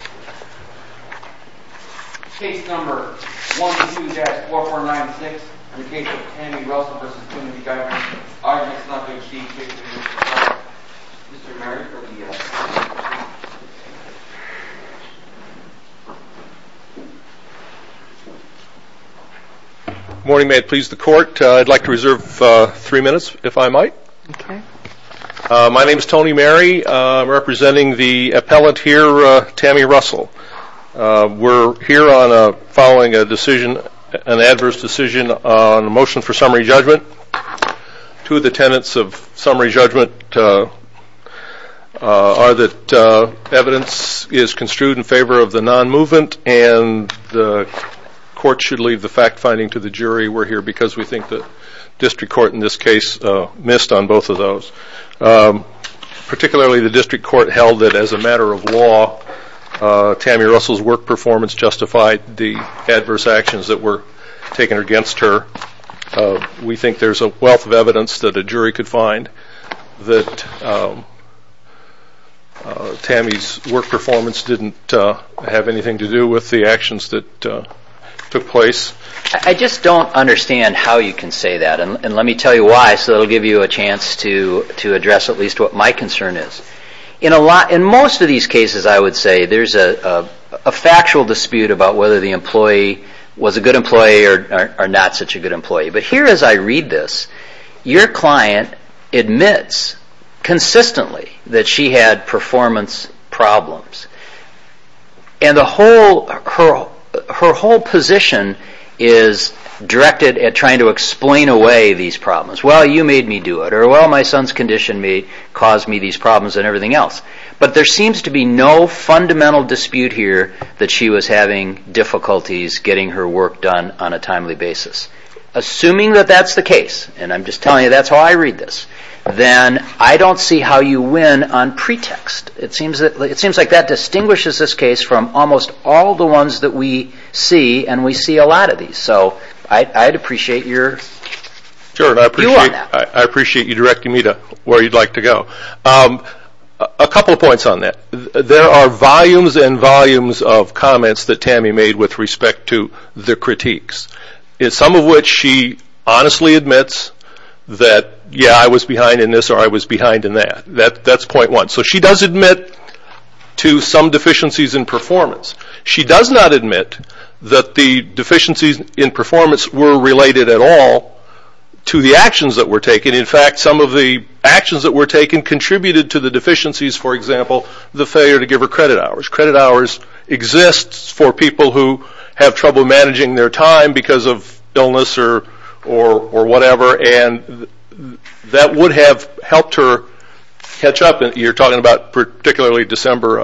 I'd like to reserve three minutes if I might. My name is Tony Mary. I'm representing the appellant here, Tammy Russell. We're here on a following a decision, an adverse decision on a motion for summary judgment. Two of the tenets of summary judgment are that evidence is construed in favor of the non-movement and the court should leave the fact finding to the jury. We're here because we think that district court in this case missed on both of those. Particularly the district court held that as a matter of law Tammy Russell's work performance justified the adverse actions that were taken against her. We think there's a wealth of evidence that a jury could find that Tammy's work performance didn't have anything to do with the actions that took place. I just don't understand how you can say that and let me tell you why so it'll give you a chance to to address at least what my concern is. In a lot in most of these cases I would say there's a factual dispute about whether the employee was a good employee or not such a good employee but here as I read this your client admits consistently that she had performance problems and the whole her whole position is directed at trying to these problems. Well you made me do it or well my son's conditioned me caused me these problems and everything else but there seems to be no fundamental dispute here that she was having difficulties getting her work done on a timely basis. Assuming that that's the case and I'm just telling you that's how I read this then I don't see how you win on pretext. It seems that it seems like that distinguishes this case from almost all the ones that we see and we see a I'd appreciate your view on that. I appreciate you directing me to where you'd like to go. A couple points on that. There are volumes and volumes of comments that Tammy made with respect to the critiques. Some of which she honestly admits that yeah I was behind in this or I was behind in that. That's point one. So she does admit to some deficiencies in performance were related at all to the actions that were taken. In fact some of the actions that were taken contributed to the deficiencies for example the failure to give her credit hours. Credit hours exist for people who have trouble managing their time because of illness or whatever and that would have helped her catch up. You're talking about particularly December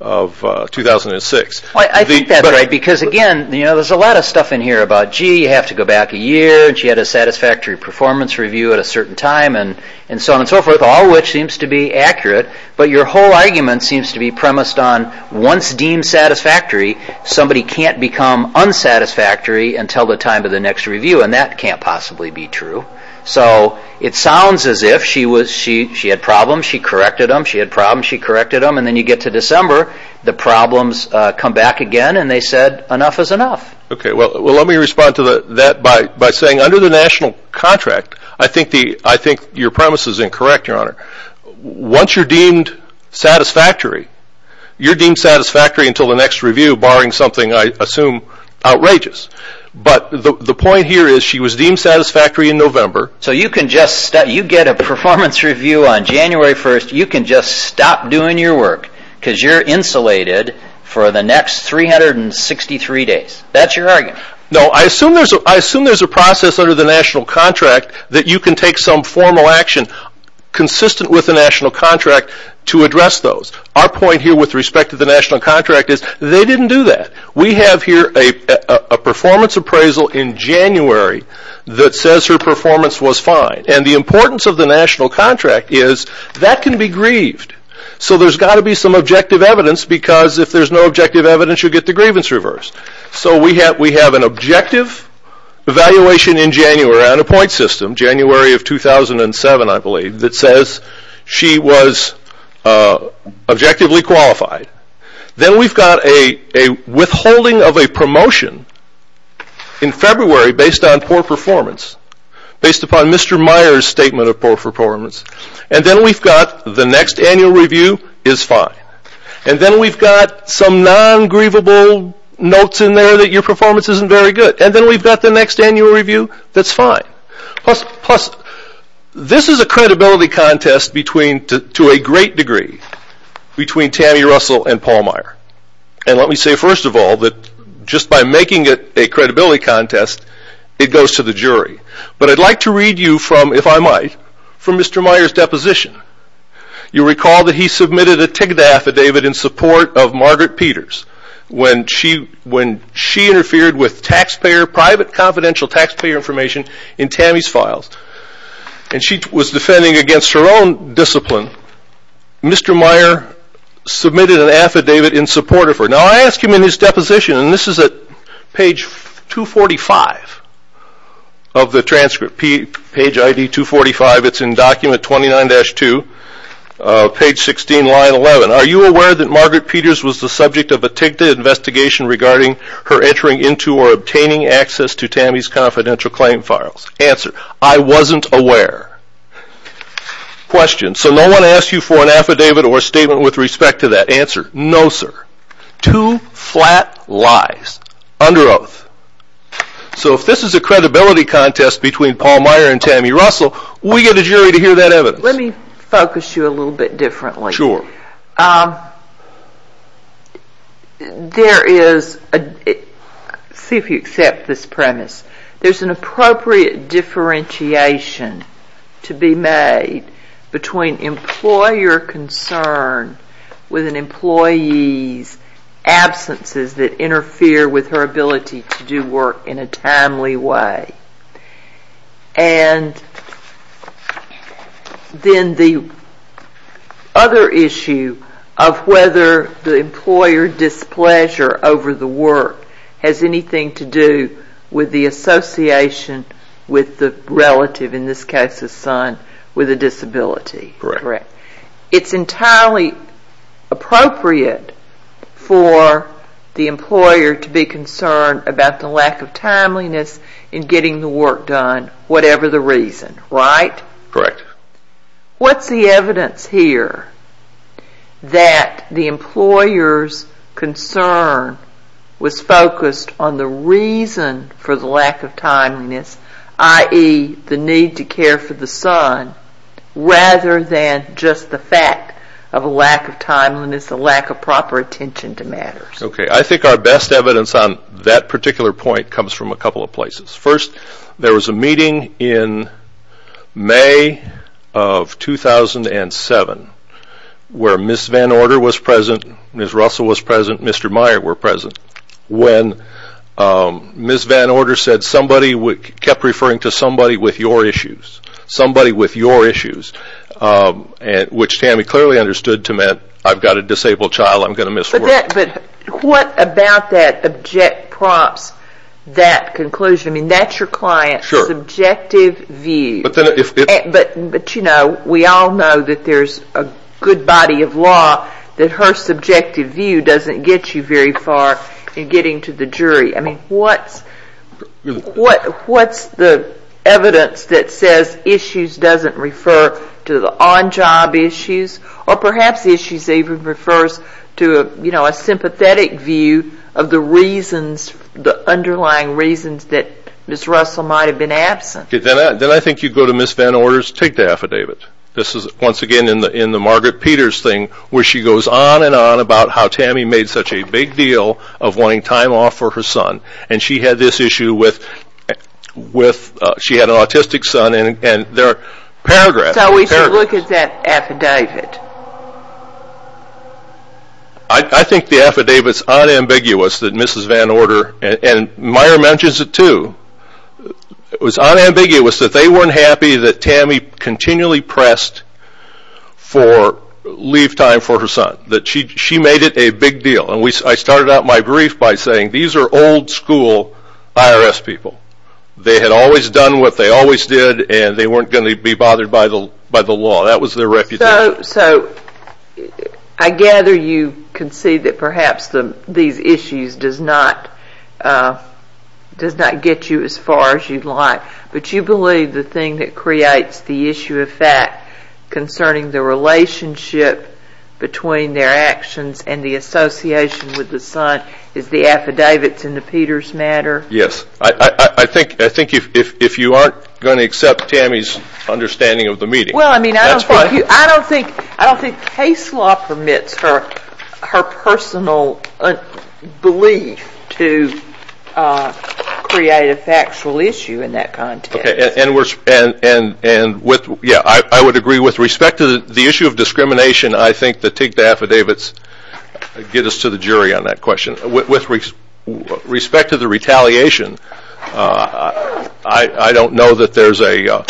of 2006. I think that's right because again there's a lot of stuff in here about gee you have to go back a year and she had a satisfactory performance review at a certain time and so on and so forth. All of which seems to be accurate but your whole argument seems to be premised on once deemed satisfactory somebody can't become unsatisfactory until the time of the next review and that can't possibly be true. So it sounds as if she had problems, she corrected them, she had problems, she corrected them and then you get to December the problems come back again and they said enough is enough. Okay well let me respond to that by saying under the national contract I think your premise is incorrect your honor. Once you're deemed satisfactory you're deemed satisfactory until the next review barring something I assume outrageous. But the point here is she was deemed satisfactory in November. So you get a performance review on January 1st you can just stop doing your work because you're insulated for the next 363 days. That's your argument. No I assume there's a process under the national contract that you can take some formal action consistent with the national contract to address those. Our point here with respect to the national contract is they didn't do that. We have here a performance appraisal in January that says her performance was fine and the importance of the national contract is that can be grieved. So there's got to be some objective evidence because if there's no objective evidence you'll get the grievance reversed. So we have an objective evaluation in January on a point system, January of 2007 I believe, that says she was objectively qualified. Then we've got a withholding of a promotion in February based on poor performance, based upon Mr. Meyer's statement of poor performance. And then we've got the next annual review is fine. And then we've got some non-grievable notes in there that your performance isn't very good. And then we've got the next annual review that's fine. Plus this is a credibility contest between, to a great degree, between Tammy Russell and Paul Meyer. And let me say I'd like to read you from, if I might, from Mr. Meyer's deposition. You'll recall that he submitted a TIGDA affidavit in support of Margaret Peters when she interfered with taxpayer, private confidential taxpayer information in Tammy's files. And she was defending against her own discipline. Mr. Meyer submitted an affidavit in support of her. Now I ask him in his deposition, and this is at page 245 of the transcript, page ID 245, it's in document 29-2, page 16, line 11. Are you aware that Margaret Peters was the subject of a TIGDA investigation regarding her entering into or obtaining access to Tammy's confidential claim files? Answer, I wasn't aware. Question, so no one asked you for an affidavit or statement with respect to that? Answer, no sir. Two flat lies. Under oath. So if this is a credibility contest between Paul Meyer and Tammy Russell, we get a jury to hear that evidence. Let me focus you a little bit differently. Sure. There is, see if you accept this premise, there's an appropriate differentiation to be made between employer concern and employer displeasure, with an employee's absences that interfere with her ability to do work in a timely way. And then the other issue of whether the employer displeasure over the work has anything to do with the association with the relative, in this case the son, with a disability. Correct. It's entirely appropriate for the employer to be concerned about the lack of timeliness in getting the work done, whatever the reason, right? Correct. What's the evidence here that the employer's concern was focused on the reason for the lack of timeliness, i.e. the need to care for the son, rather than just the fact of a lack of timeliness, a lack of proper attention to matters? Okay, I think our best evidence on that particular point comes from a couple of places. First, there was a meeting in May of 2007, where Ms. Van Order was present, Ms. Russell was present, Mr. Meyer were present. When Ms. Van Order was present, she kept referring to somebody with your issues, somebody with your issues, which Tammy clearly understood to mean, I've got a disabled child, I'm going to miss work. But what about that object prompts that conclusion? That's your client's subjective view. But we all know that there's a good body of law, that her subjective view doesn't get you very far in getting to the jury. I mean, what's the evidence that says issues doesn't refer to the on-job issues? Or perhaps issues even refers to a sympathetic view of the reasons, the underlying reasons that Ms. Russell might have been absent. Then I think you go to Ms. Van Order's take the affidavit. This is, once again, in the Margaret Peters thing, where she goes on and on about how Tammy made such a big deal of wanting time off for her son. And she had this issue with, she had an autistic son, and there are paragraphs. So we should look at that affidavit. I think the affidavit is unambiguous that Mrs. Van Order, and Meyer mentions it too, it was unambiguous that they weren't happy that Tammy continually pressed for leave time for her son. That she made it a big deal. And I started out my brief by saying these are old school IRS people. They had always done what they always did and they weren't going to be bothered by the law. That was their reputation. So I gather you concede that perhaps these issues does not get you as far as you'd like. But you believe the thing that creates the issue of fact concerning the relationship between their actions and the association with the son is the affidavits in the Peters matter? Yes. I think if you aren't going to accept Tammy's understanding of the meeting, that's fine. I don't think case law permits her personal belief to create a factual issue in that kind of matter. Okay. And I would agree with respect to the issue of discrimination, I think the TIGTA affidavits get us to the jury on that question. With respect to the retaliation, I don't know that there's a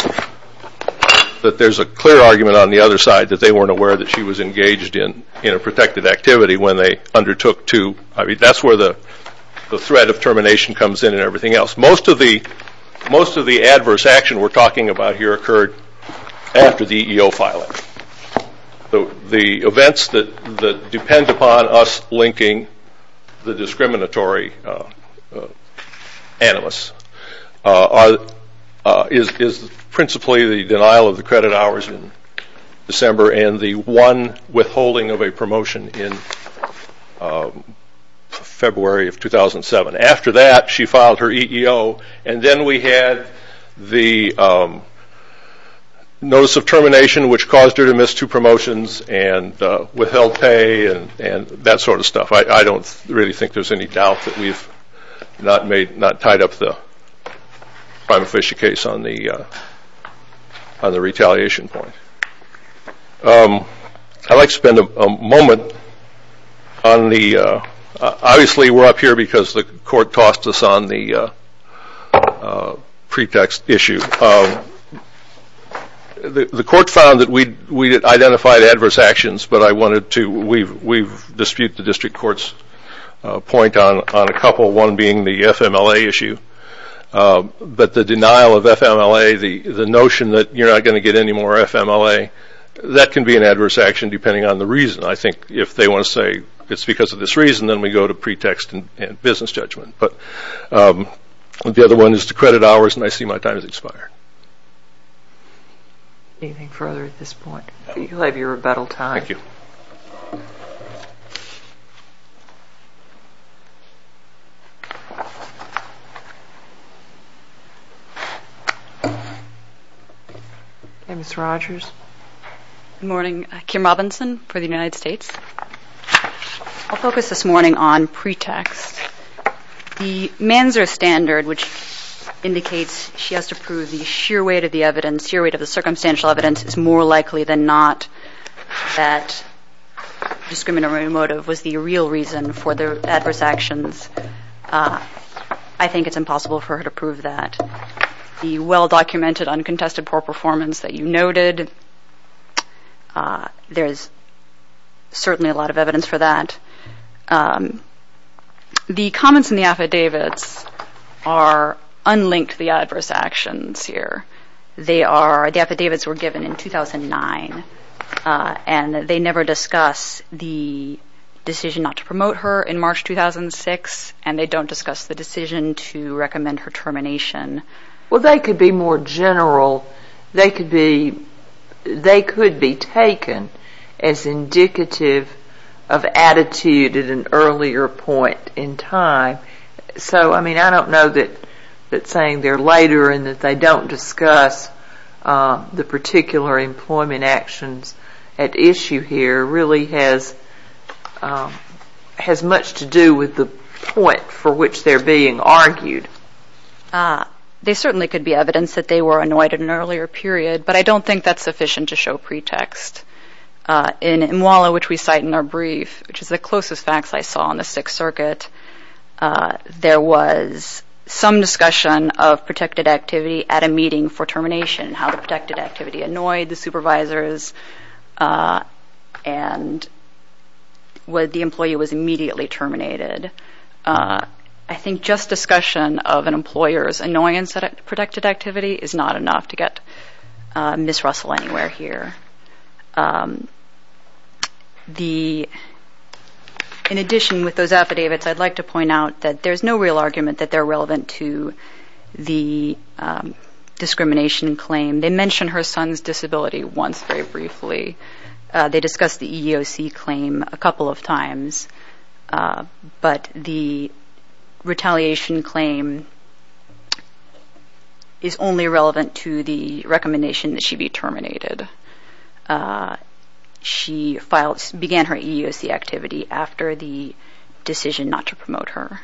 clear argument on the other side that they weren't aware that she was engaged in a protective activity when they undertook to. That's where the threat of termination comes in and everything else. Most of the adverse action we're talking about here occurred after the EEO filing. The events that depend upon us linking the discriminatory animus is principally the denial of the credit hours in December and the one withholding of a promotion in February of 2007. After that, she filed her EEO and then we had the notice of termination which caused her to miss two promotions and withheld pay and that sort of stuff. I don't really think there's any doubt that we've not tied up the prima facie case on the retaliation point. I'd like to spend a moment on the, obviously we're up here because the court tossed us on the pretext issue. The court found that we identified adverse actions but I wanted to, we've disputed the district court's point on a couple, one being the FMLA issue. But the denial of FMLA, the notion that you're not going to get any more FMLA, that can be an adverse action depending on the reason. I think if they want to say it's because of this reason, then we go to pretext and business judgment. But the other one is the credit hours and I see my time has expired. Ms. Rogers. Good morning. Kim Robinson for the United States. I'll focus this morning on pretext. The Manzer standard which indicates she has to prove the sheer weight of the evidence, sheer weight of the circumstantial evidence is more likely than not that discriminatory motive was the real reason for the adverse actions. I think it's impossible for her to be well documented, uncontested, poor performance that you noted. There's certainly a lot of evidence for that. The comments in the affidavits are unlinked to the adverse actions here. They are, the affidavits were given in 2009 and they never discuss the decision not to do it. Well, they could be more general. They could be taken as indicative of attitude at an earlier point in time. So, I mean, I don't know that saying they're later and that they don't discuss the particular employment actions at issue here really has much to do with the point for which they're being argued. They certainly could be evidence that they were annoyed at an earlier period, but I don't think that's sufficient to show pretext. In MWALA, which we cite in our brief, which is the closest facts I saw on the Sixth Circuit, there was some discussion of protected activity at a meeting for termination, how the protected activity annoyed the supervisors and the employee was immediately terminated. I think just discussion of an employer's annoyance at protected activity is not enough to get Ms. Russell anywhere here. In addition with those affidavits, I'd like to point out that there's no real argument that they're relevant to the discrimination claim. They mentioned her son's disability once very briefly. They discussed the EEOC claim a couple of times, but the retaliation claim is only relevant to the recommendation that she be terminated. She began her EEOC activity after the decision not to promote her.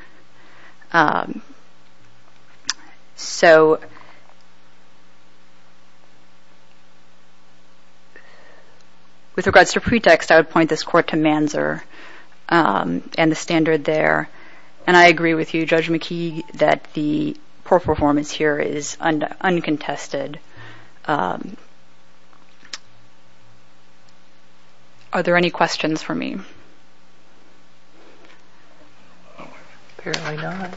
With regards to pretext, I would point this court to Manzer and the standard there. I agree with you, Judge McKee, that the poor performance here is uncontested. Are there any questions for me? Apparently not.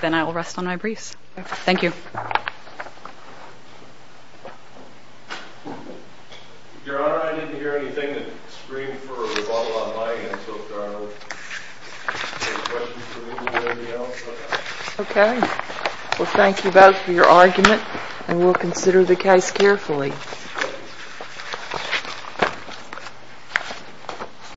Then I will rest on my briefs. Thank you. Your Honor, I didn't hear anything that screamed for a rebuttal on my end, so if there are any questions for me or anybody else, I'll pass. Okay. Well, thank you both for your argument, and we'll consider the case carefully.